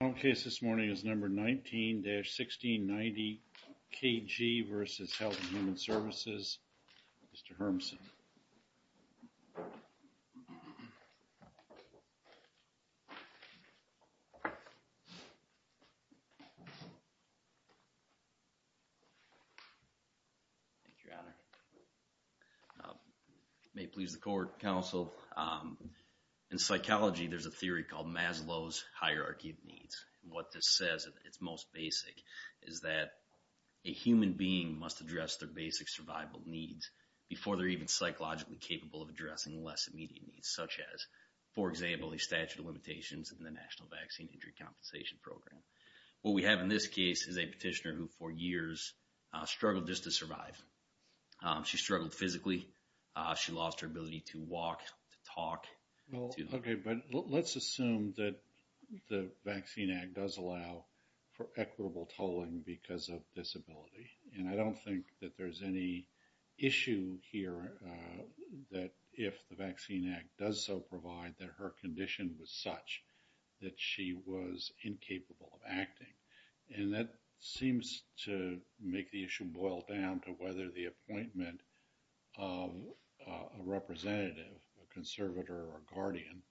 The final case this morning is number 19-1690, K.G. v. Health and Human Services. Mr. Hermsen. Thank you, Your Honor. May it please the Court, Counsel. In psychology, there's a theory called Maslow's Hierarchy of Needs. What this says, at its most basic, is that a human being must address their basic survival needs before they're even psychologically capable of addressing less immediate needs, such as, for example, the statute of limitations in the National Vaccine Injury Compensation Program. What we have in this case is a petitioner who, for years, struggled just to survive. She struggled physically. She lost her ability to walk, to talk. Okay, but let's assume that the Vaccine Act does allow for equitable tolling because of disability. And I don't think that there's any issue here that, if the Vaccine Act does so provide, that her condition was such that she was incapable of acting. And that seems to make the issue boil down to whether the appointment of a representative, a conservator or a guardian,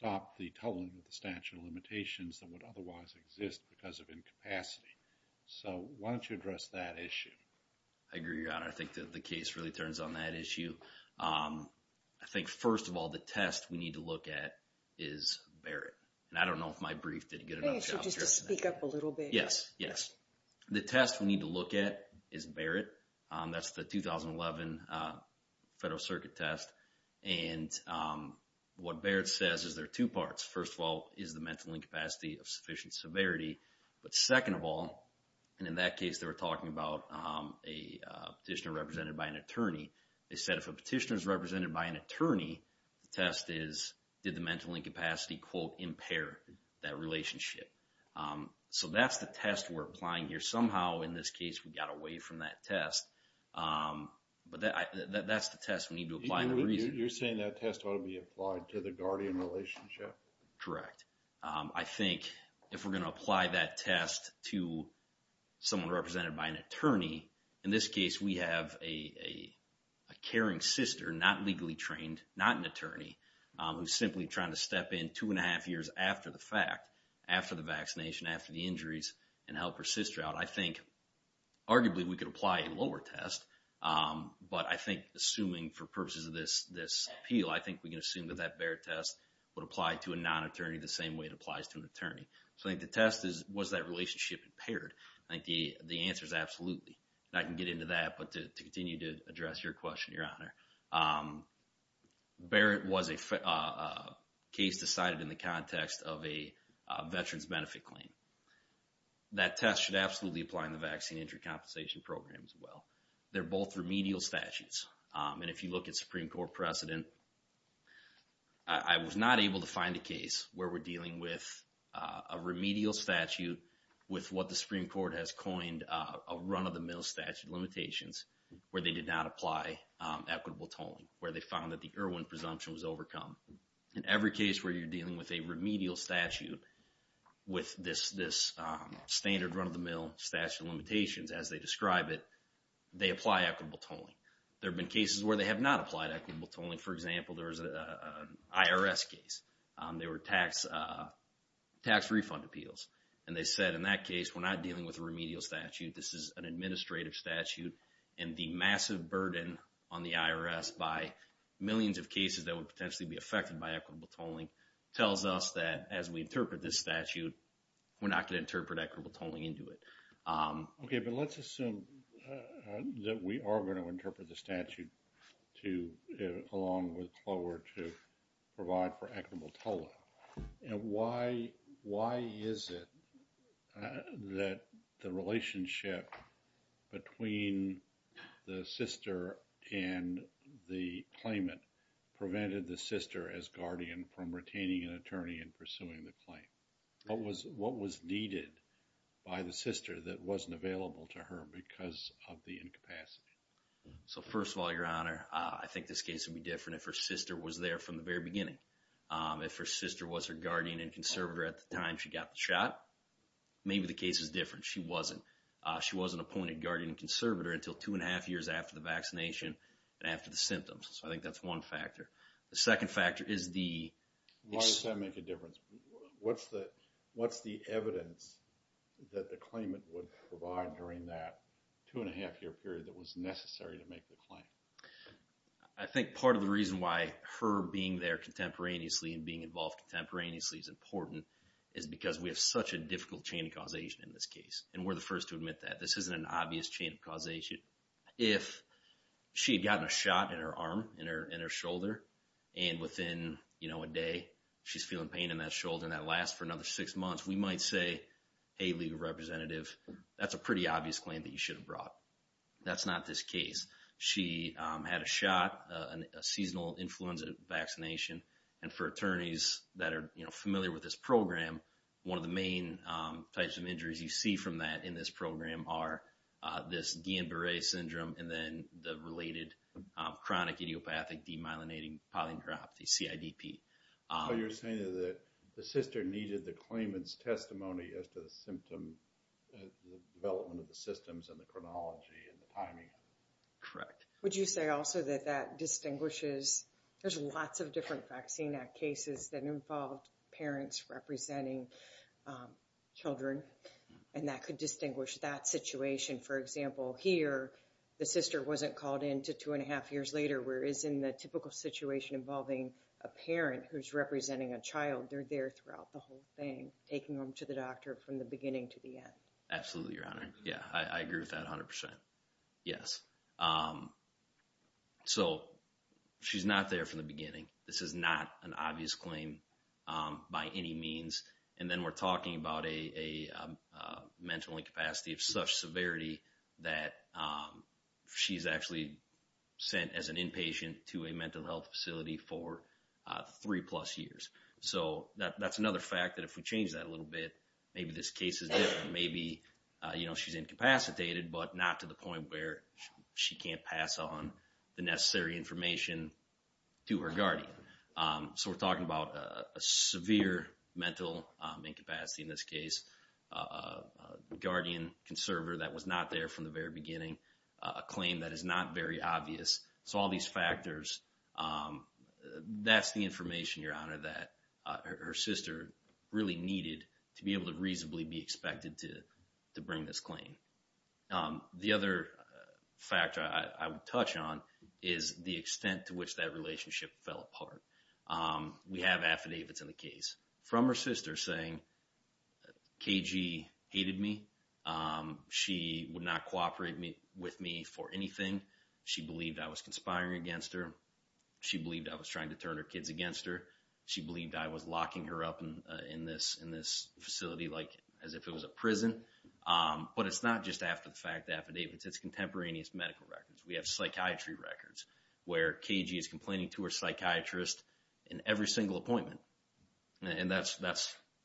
stopped the tolling of the statute of limitations that would otherwise exist because of incapacity. So why don't you address that issue? I agree, Your Honor. I think that the case really turns on that issue. I think, first of all, the test we need to look at is Barrett. And I don't know if my brief did a good enough job here. Maybe you should just speak up a little bit. Yes, yes. The test we need to look at is Barrett. That's the 2011 Federal Circuit test. And what Barrett says is there are two parts. First of all is the mental incapacity of sufficient severity. But second of all, and in that case they were talking about a petitioner represented by an attorney, they said if a petitioner is represented by an attorney, the test is did the mental incapacity, quote, impair that relationship. So that's the test we're applying here. Somehow in this case we got away from that test. But that's the test we need to apply. You're saying that test ought to be applied to the guardian relationship? Correct. I think if we're going to apply that test to someone represented by an attorney, in this case we have a caring sister, not legally trained, not an attorney, who's simply trying to step in two and a half years after the fact, after the vaccination, after the injuries, and help her sister out, I think arguably we could apply a lower test. But I think assuming for purposes of this appeal, I think we can assume that that Barrett test would apply to a non-attorney the same way it applies to an attorney. So I think the test is was that relationship impaired. I think the answer is absolutely. And I can get into that, but to continue to address your question, Your Honor, Barrett was a case decided in the context of a veteran's benefit claim. That test should absolutely apply in the Vaccine Injury Compensation Program as well. They're both remedial statutes. And if you look at Supreme Court precedent, I was not able to find a case where we're dealing with a remedial statute with what the Supreme Court has coined a run-of-the-mill statute limitations, where they did not apply equitable tolling, where they found that the Irwin presumption was overcome. In every case where you're dealing with a remedial statute with this standard run-of-the-mill statute limitations, as they describe it, they apply equitable tolling. There have been cases where they have not applied equitable tolling. For example, there was an IRS case. They were tax refund appeals. And they said, in that case, we're not dealing with a remedial statute. This is an administrative statute. And the massive burden on the IRS by millions of cases that would potentially be affected by equitable tolling tells us that as we interpret this statute, we're not going to interpret equitable tolling into it. Okay, but let's assume that we are going to interpret the statute along with Clover to provide for equitable tolling. And why is it that the relationship between the sister and the claimant prevented the sister as guardian from retaining an attorney and pursuing the claim? What was needed by the sister that wasn't available to her because of the incapacity? So, first of all, Your Honor, I think this case would be different if her sister was there from the very beginning. If her sister was her guardian and conservator at the time she got the shot, maybe the case is different. She wasn't. She wasn't appointed guardian and conservator until two and a half years after the vaccination and after the symptoms. So, I think that's one factor. The second factor is the... Why does that make a difference? What's the evidence that the claimant would provide during that two and a half year period that was necessary to make the claim? I think part of the reason why her being there contemporaneously and being involved contemporaneously is important is because we have such a difficult chain of causation in this case. And we're the first to admit that. This isn't an obvious chain of causation. If she had gotten a shot in her arm, in her shoulder, and within a day, she's feeling pain in that shoulder and that lasts for another six months, we might say, Hey, legal representative, that's a pretty obvious claim that you should have brought. That's not this case. She had a shot, a seasonal influenza vaccination. And for attorneys that are familiar with this program, one of the main types of injuries you see from that in this program are this Guillain-Barré syndrome and then the related chronic idiopathic demyelinating polyneuropathy, CIDP. So you're saying that the sister needed the claimant's testimony as to the symptom development of the systems and the chronology and the timing? Correct. Would you say also that that distinguishes? There's lots of different Vaccine Act cases that involved parents representing children. And that could distinguish that situation. For example, here, the sister wasn't called in to two and a half years later, whereas in the typical situation involving a parent who's representing a child, they're there throughout the whole thing, taking them to the doctor from the beginning to the end. Absolutely, Your Honor. Yeah, I agree with that 100%. Yes. So she's not there from the beginning. This is not an obvious claim by any means. And then we're talking about a mental incapacity of such severity that she's actually sent as an inpatient to a mental health facility for three-plus years. So that's another fact that if we change that a little bit, maybe this case is different. Maybe she's incapacitated but not to the point where she can't pass on the necessary information to her guardian. So we're talking about a severe mental incapacity in this case, guardian-conserver that was not there from the very beginning, a claim that is not very obvious. So all these factors, that's the information, Your Honor, that her sister really needed to be able to reasonably be expected to bring this claim. The other factor I would touch on is the extent to which that relationship fell apart. We have affidavits in the case from her sister saying, KG hated me. She would not cooperate with me for anything. She believed I was conspiring against her. She believed I was trying to turn her kids against her. She believed I was locking her up in this facility as if it was a prison. But it's not just after the fact affidavits. It's contemporaneous medical records. We have psychiatry records where KG is complaining to her psychiatrist in every single appointment. And that's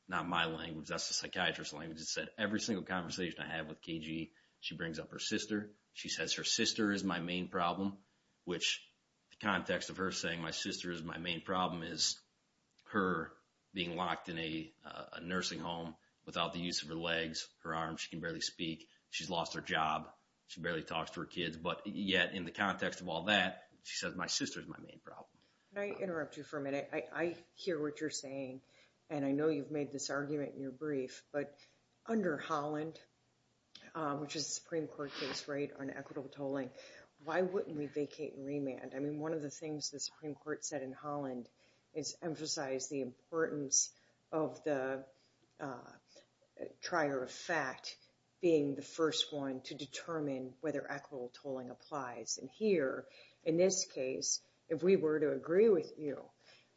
not my language. That's the psychiatrist's language. It said every single conversation I have with KG, she brings up her sister. She says her sister is my main problem, which the context of her saying my sister is my main problem is her being locked in a nursing home without the use of her legs, her arms. She can barely speak. She's lost her job. She barely talks to her kids. But yet in the context of all that, she says my sister is my main problem. Can I interrupt you for a minute? I hear what you're saying, and I know you've made this argument in your brief, but under Holland, which is a Supreme Court case on equitable tolling, why wouldn't we vacate and remand? I mean, one of the things the Supreme Court said in Holland is emphasize the importance of the trier of fact being the first one to determine whether equitable tolling applies. And here, in this case, if we were to agree with you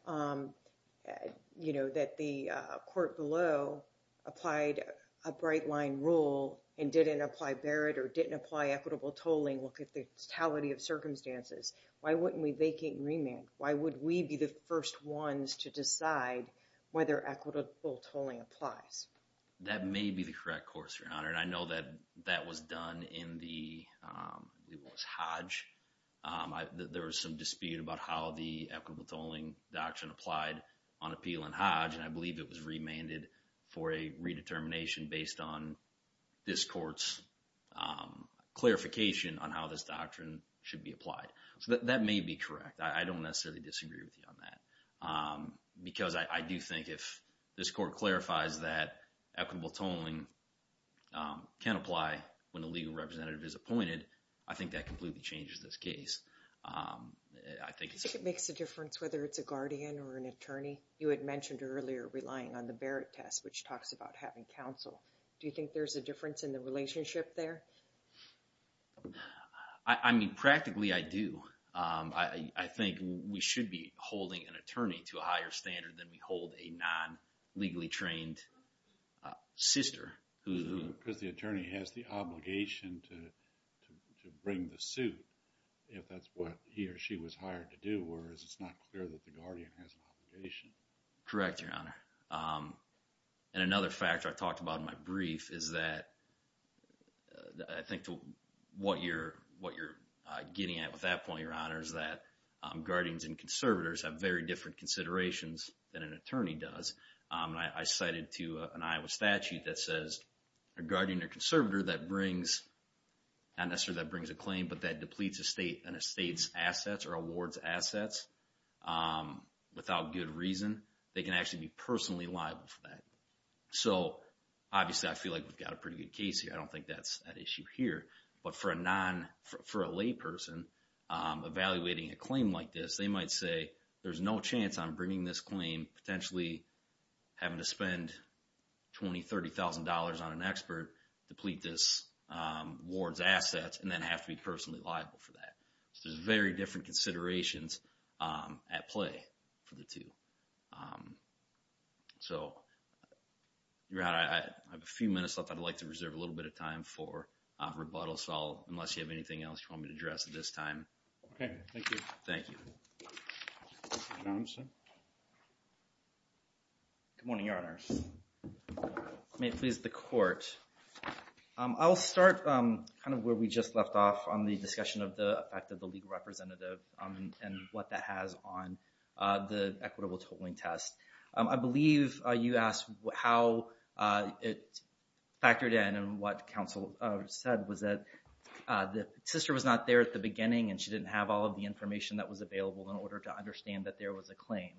that the court below applied a bright-line rule and didn't apply Barrett or didn't apply equitable tolling, look at the totality of circumstances, why wouldn't we vacate and remand? Why would we be the first ones to decide whether equitable tolling applies? That may be the correct course, Your Honor, and I know that that was done in the Hodge. There was some dispute about how the equitable tolling doctrine applied on appeal in Hodge, and I believe it was remanded for a redetermination based on this court's clarification on how this doctrine should be applied. So that may be correct. I don't necessarily disagree with you on that because I do think if this court clarifies that equitable tolling can apply when a legal representative is appointed, I think that completely changes this case. Do you think it makes a difference whether it's a guardian or an attorney? You had mentioned earlier relying on the Barrett test, which talks about having counsel. Do you think there's a difference in the relationship there? I mean, practically, I do. I think we should be holding an attorney to a higher standard than we hold a non-legally trained sister. Because the attorney has the obligation to bring the suit if that's what he or she was hired to do, whereas it's not clear that the guardian has an obligation. Correct, Your Honor. And another factor I talked about in my brief is that I think what you're getting at with that point, Your Honor, is that guardians and conservators have very different considerations than an attorney does. I cited to an Iowa statute that says a guardian or conservator that brings, not necessarily that brings a claim, but that depletes an estate's assets or awards assets without good reason, they can actually be personally liable for that. So, obviously, I feel like we've got a pretty good case here. I don't think that's an issue here. But for a layperson evaluating a claim like this, they might say, there's no chance I'm bringing this claim, potentially having to spend $20,000, $30,000 on an expert, deplete this award's assets, and then have to be personally liable for that. So there's very different considerations at play for the two. So, Your Honor, I have a few minutes left. I'd like to reserve a little bit of time for rebuttal. So unless you have anything else you want me to address at this time. Okay. Thank you. Thank you. Your Honor. Good morning, Your Honor. May it please the Court. I'll start kind of where we just left off on the discussion of the effect of the legal representative and what that has on the equitable tolling test. I believe you asked how it factored in and what counsel said was that the sister was not there at the beginning and she didn't have all of the information that was available in order to understand that there was a claim.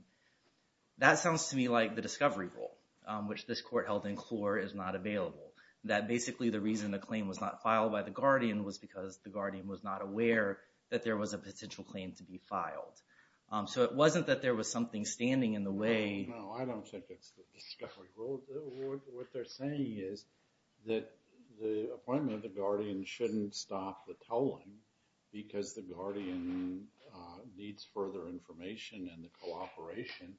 That sounds to me like the discovery rule, which this Court held in court, is not available. That basically the reason the claim was not filed by the guardian was because the guardian was not aware that there was a potential claim to be filed. So it wasn't that there was something standing in the way. No, I don't think it's the discovery rule. What they're saying is that the appointment of the guardian shouldn't stop the tolling because the guardian needs further information and the cooperation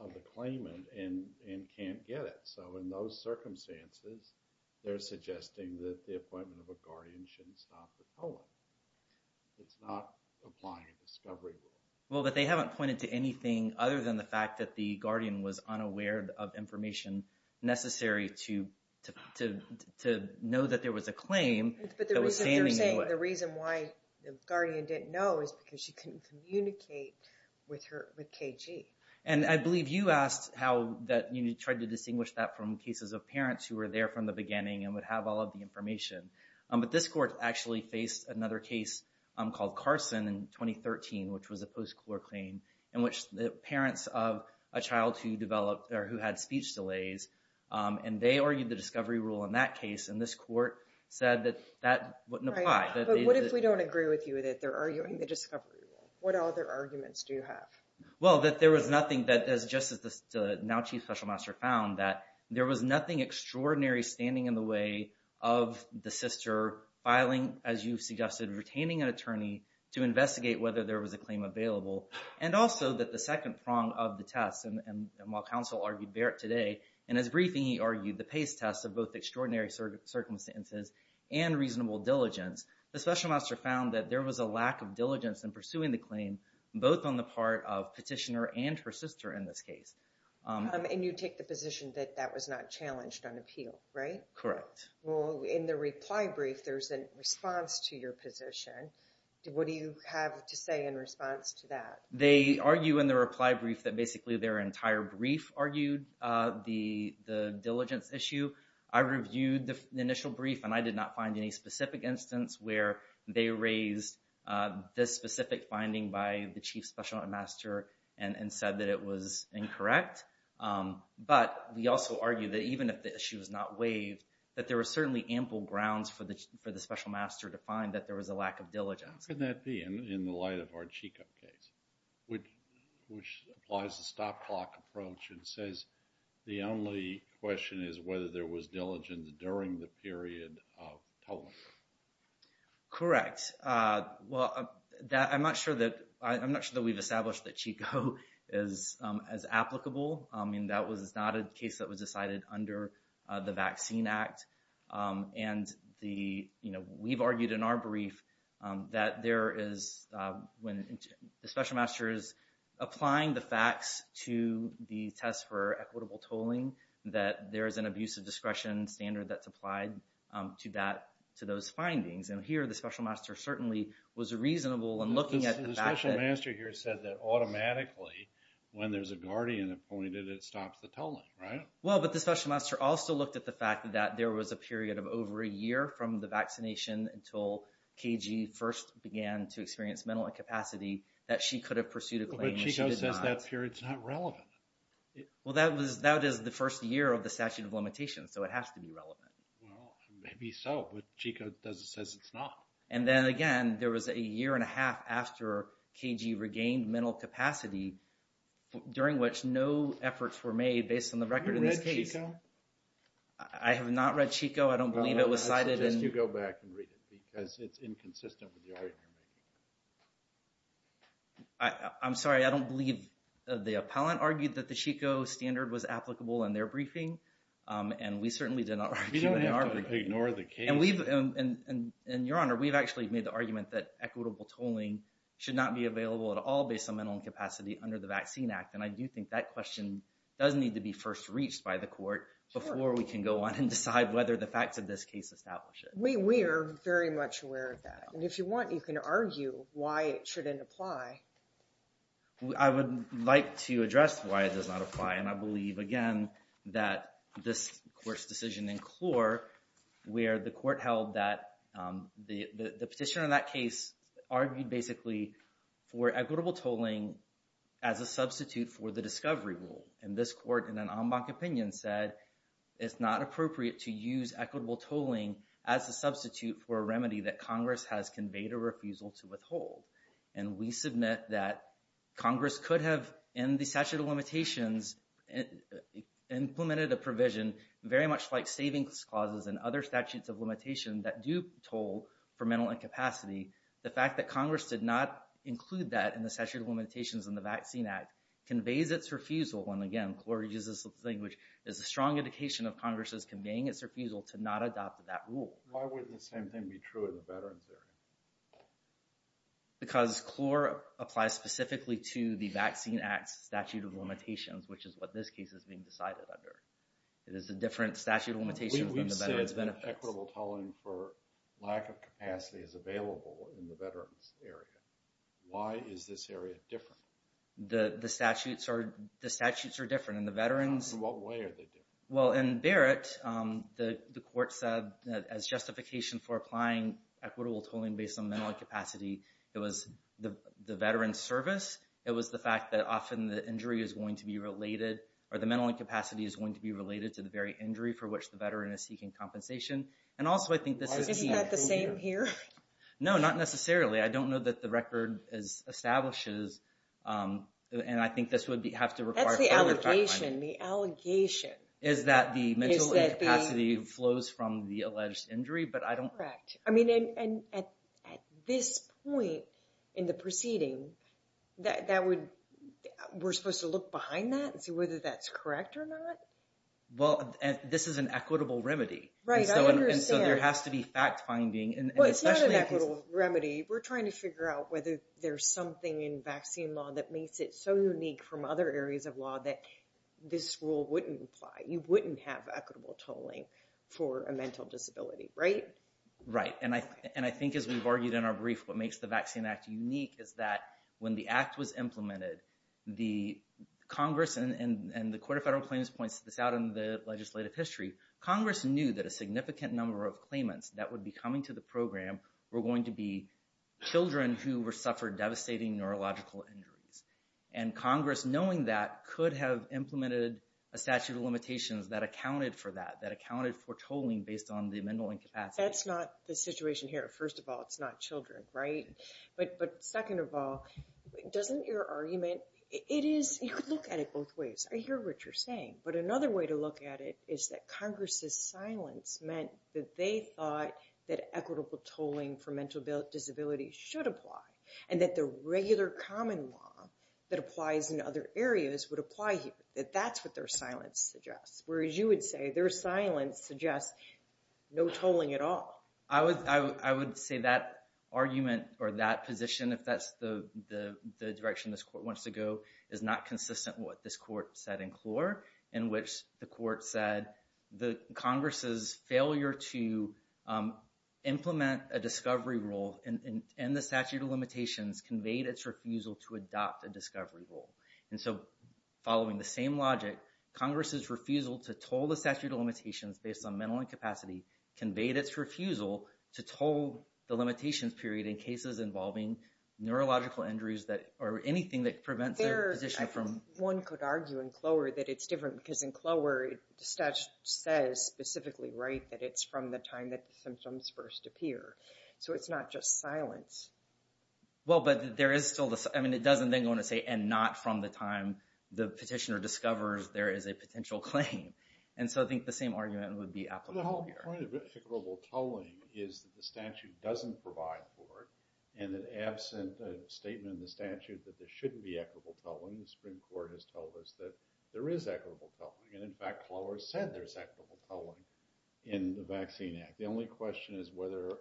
of the claimant and can't get it. So in those circumstances, they're suggesting that the appointment of a guardian shouldn't stop the tolling. It's not applying a discovery rule. Well, but they haven't pointed to anything other than the fact that the guardian was unaware of information necessary to know that there was a claim that was standing in the way. But they're saying the reason why the guardian didn't know is because she couldn't communicate with KG. And I believe you asked how that you tried to distinguish that from cases of parents who were there from the beginning and would have all of the information. But this Court actually faced another case called Carson in 2013, which was a post-court claim, in which the parents of a child who developed or who had speech delays, and they argued the discovery rule in that case, and this Court said that that wouldn't apply. But what if we don't agree with you that they're arguing the discovery rule? What other arguments do you have? Well, that there was nothing that, just as the now Chief Special Master found, that there was nothing extraordinary standing in the way of the sister filing, as you suggested, retaining an attorney to investigate whether there was a claim available, and also that the second prong of the test, and while counsel argued Barrett today, in his briefing he argued the PACE test of both extraordinary circumstances and reasonable diligence, the Special Master found that there was a lack of diligence in pursuing the claim, both on the part of petitioner and her sister in this case. And you take the position that that was not challenged on appeal, right? Correct. Well, in the reply brief there's a response to your position. What do you have to say in response to that? They argue in the reply brief that basically their entire brief argued the diligence issue. I reviewed the initial brief and I did not find any specific instance where they raised this specific finding by the Chief Special Master and said that it was incorrect. But we also argued that even if the issue was not waived, that there were certainly ample grounds for the Special Master to find that there was a lack of diligence. How can that be in the light of our Chico case, which applies a stop clock approach and says the only question is whether there was diligence during the period of tolerance? Correct. Well, I'm not sure that we've established that Chico is as applicable. I mean, that was not a case that was decided under the Vaccine Act. And we've argued in our brief that when the Special Master is applying the facts to the test for equitable tolling, that there is an abusive discretion standard that's applied to those findings. And here the Special Master certainly was reasonable in looking at the fact that... The Special Master here said that automatically when there's a guardian appointed, it stops the tolling, right? Well, but the Special Master also looked at the fact that there was a period of over a year from the vaccination until KG first began to experience mental incapacity that she could have pursued a claim and she did not. But Chico says that period's not relevant. Well, that is the first year of the statute of limitations, so it has to be relevant. Well, maybe so, but Chico says it's not. And then again, there was a year and a half after KG regained mental capacity during which no efforts were made based on the record in this case. Have you read Chico? I have not read Chico. I don't believe it was cited. Then you go back and read it because it's inconsistent with the argument you're making. I'm sorry, I don't believe... The appellant argued that the Chico standard was applicable in their briefing, and we certainly did not argue in our briefing. You don't have to ignore the case. And we've... And Your Honor, we've actually made the argument that equitable tolling should not be available at all based on mental incapacity under the Vaccine Act. And I do think that question does need to be first reached by the court before we can go on and decide whether the facts of this case establish it. We are very much aware of that. And if you want, you can argue why it shouldn't apply. I would like to address why it does not apply. And I believe, again, that this court's decision in Clore, where the court held that the petitioner in that case argued basically for equitable tolling as a substitute for the discovery rule. And this court, in an en banc opinion, said it's not appropriate to use equitable tolling as a substitute for a remedy that Congress has conveyed a refusal to withhold. And we submit that Congress could have, in the statute of limitations, implemented a provision very much like savings clauses and other statutes of limitation that do toll for mental incapacity the fact that Congress did not include that in the statute of limitations in the Vaccine Act conveys its refusal. And again, Clore uses the language, it's a strong indication of Congress's conveying its refusal to not adopt that rule. Why would the same thing be true in the veterans area? Because Clore applies specifically to the Vaccine Act's statute of limitations, which is what this case is being decided under. It is a different statute of limitations than the veterans benefits. If equitable tolling for lack of capacity is available in the veterans area, why is this area different? The statutes are different in the veterans. In what way are they different? Well, in Barrett, the court said that as justification for applying equitable tolling based on mental incapacity, it was the veterans service, it was the fact that often the injury is going to be related, or the mental incapacity is going to be related to the very injury for which the veteran is seeking compensation. And also, I think this is... Isn't that the same here? No, not necessarily. I don't know that the record establishes, and I think this would have to require... That's the allegation, the allegation. Is that the mental incapacity flows from the alleged injury, but I don't... Correct. I mean, at this point in the proceeding, we're supposed to look behind that and see whether that's correct or not? Well, this is an equitable remedy. Right, I understand. And so there has to be fact-finding. Well, it's not an equitable remedy. We're trying to figure out whether there's something in vaccine law that makes it so unique from other areas of law that this rule wouldn't apply. You wouldn't have equitable tolling for a mental disability, right? Right. And I think, as we've argued in our brief, what makes the Vaccine Act unique is that when the act was implemented, Congress and the Court of Federal Claims points this out in the legislative history, Congress knew that a significant number of claimants that would be coming to the program were going to be children who suffered devastating neurological injuries. And Congress, knowing that, could have implemented a statute of limitations that accounted for that, that accounted for tolling based on the mental incapacity. That's not the situation here. First of all, it's not children, right? But second of all, doesn't your argument... You could look at it both ways. I hear what you're saying. But another way to look at it is that Congress's silence meant that they thought that equitable tolling for mental disabilities should apply and that the regular common law that applies in other areas would apply here, that that's what their silence suggests. Whereas you would say their silence suggests no tolling at all. I would say that argument or that position, if that's the direction this court wants to go, is not consistent with what this court said in Clure, in which the court said Congress's failure to implement a discovery rule and the statute of limitations conveyed its refusal to adopt a discovery rule. And so following the same logic, Congress's refusal to toll the statute of limitations based on mental incapacity conveyed its refusal to toll the limitations period in cases involving neurological injuries or anything that prevents their position from... One could argue in Clure that it's different because in Clure, the statute says specifically, right, that it's from the time that the symptoms first appear. So it's not just silence. Well, but there is still the... I mean, it doesn't then go on to say, and not from the time the petitioner discovers there is a potential claim. And so I think the same argument would be applicable here. The whole point of equitable tolling is that the statute doesn't provide for it, and that absent a statement in the statute that there shouldn't be equitable tolling, the Supreme Court has told us that there is equitable tolling. And in fact, Clure said there's equitable tolling in the Vaccine Act. The only question is whether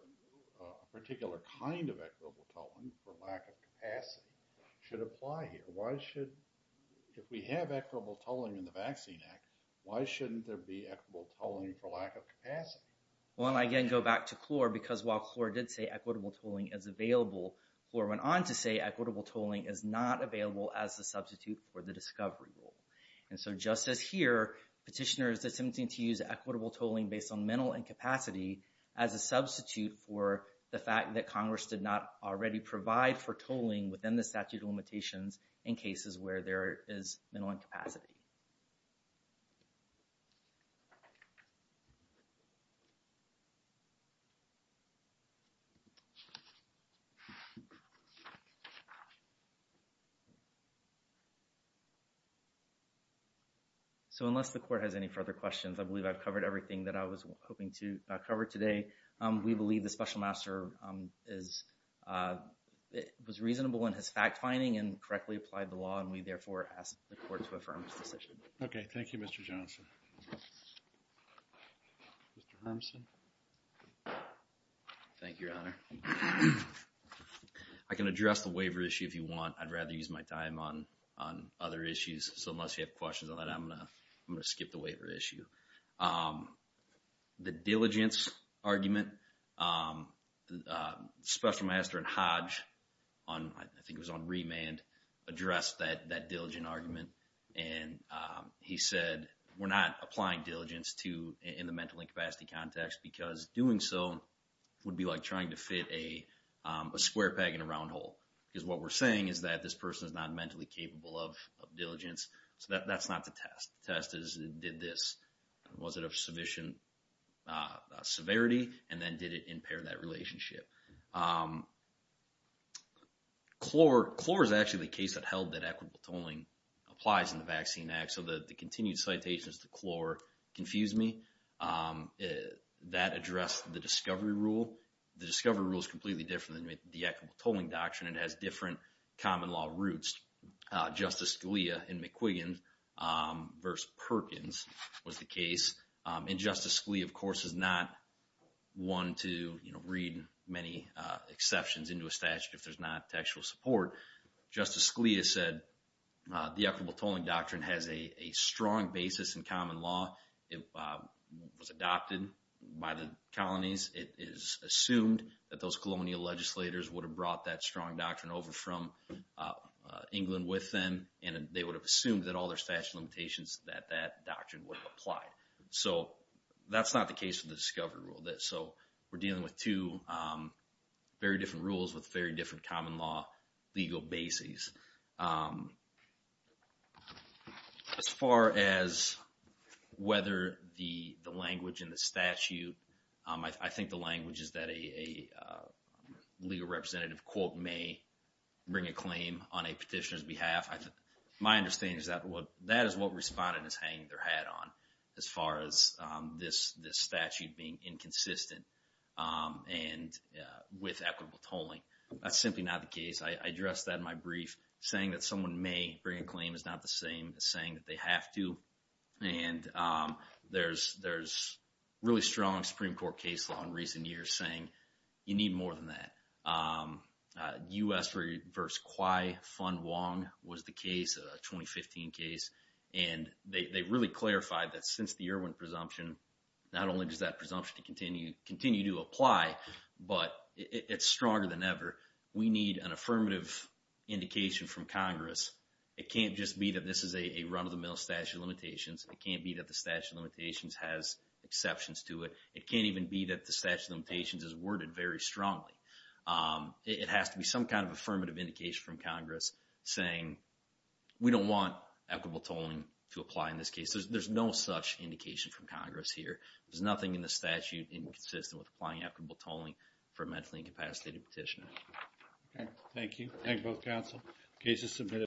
a particular kind of equitable tolling for lack of capacity should apply here. Why should... If we have equitable tolling in the Vaccine Act, why shouldn't there be equitable tolling for lack of capacity? Well, and I again go back to Clure, because while Clure did say equitable tolling is available, Clure went on to say equitable tolling is not available as a substitute for the discovery rule. And so just as here, petitioners attempting to use equitable tolling based on mental incapacity as a substitute for the fact that Congress did not already provide for tolling within the statute of limitations in cases where there is mental incapacity. So unless the Court has any further questions, I believe I've covered everything that I was hoping to cover today. We believe the Special Master was reasonable in his fact-finding and correctly applied the law, and we therefore ask the Court to affirm his decision. Okay. Thank you, Mr. Johnson. Mr. Hermsen. Thank you, Your Honor. I can address the waiver issue if you want. I'd rather use my time on other issues. So unless you have questions on that, I'm going to skip the waiver issue. The diligence argument, Special Master and Hodge, I think it was on remand, addressed that diligence argument. And he said we're not applying diligence in the mental incapacity context because doing so would be like trying to fit a square peg in a round hole. Because what we're saying is that this person is not mentally capable of diligence. So that's not the test. The test is did this, was it of sufficient severity, and then did it impair that relationship? Clore is actually the case that held that equitable tolling applies in the Vaccine Act. So the continued citations to Clore confuse me. That addressed the discovery rule. The discovery rule is completely different than the equitable tolling doctrine. It has different common law roots. Justice Scalia in McQuiggan v. Perkins was the case. And Justice Scalia, of course, is not one to read many exceptions into a statute if there's not textual support. Justice Scalia said the equitable tolling doctrine has a strong basis in common law. It was adopted by the colonies. It is assumed that those colonial legislators would have brought that strong doctrine over from England with them, and they would have assumed that all their statute limitations that that doctrine would have applied. So that's not the case with the discovery rule. So we're dealing with two very different rules with very different common law legal bases. As far as whether the language in the statute, I think the language is that a legal representative, quote, may bring a claim on a petitioner's behalf. My understanding is that that is what respondents hang their hat on as far as this statute being inconsistent and with equitable tolling. That's simply not the case. I addressed that in my brief. Saying that someone may bring a claim is not the same as saying that they have to. And there's really strong Supreme Court case law in recent years saying you need more than that. U.S. v. Kwai Fun Wong was the case, a 2015 case. And they really clarified that since the Irwin presumption, not only does that presumption continue to apply, but it's stronger than ever. We need an affirmative indication from Congress. It can't just be that this is a run-of-the-mill statute of limitations. It can't be that the statute of limitations has exceptions to it. It can't even be that the statute of limitations is worded very strongly. It has to be some kind of affirmative indication from Congress saying we don't want equitable tolling to apply in this case. There's no such indication from Congress here. There's nothing in the statute inconsistent with applying equitable tolling for a mentally incapacitated petitioner. Thank you. Thank you, both counsel. The case is submitted.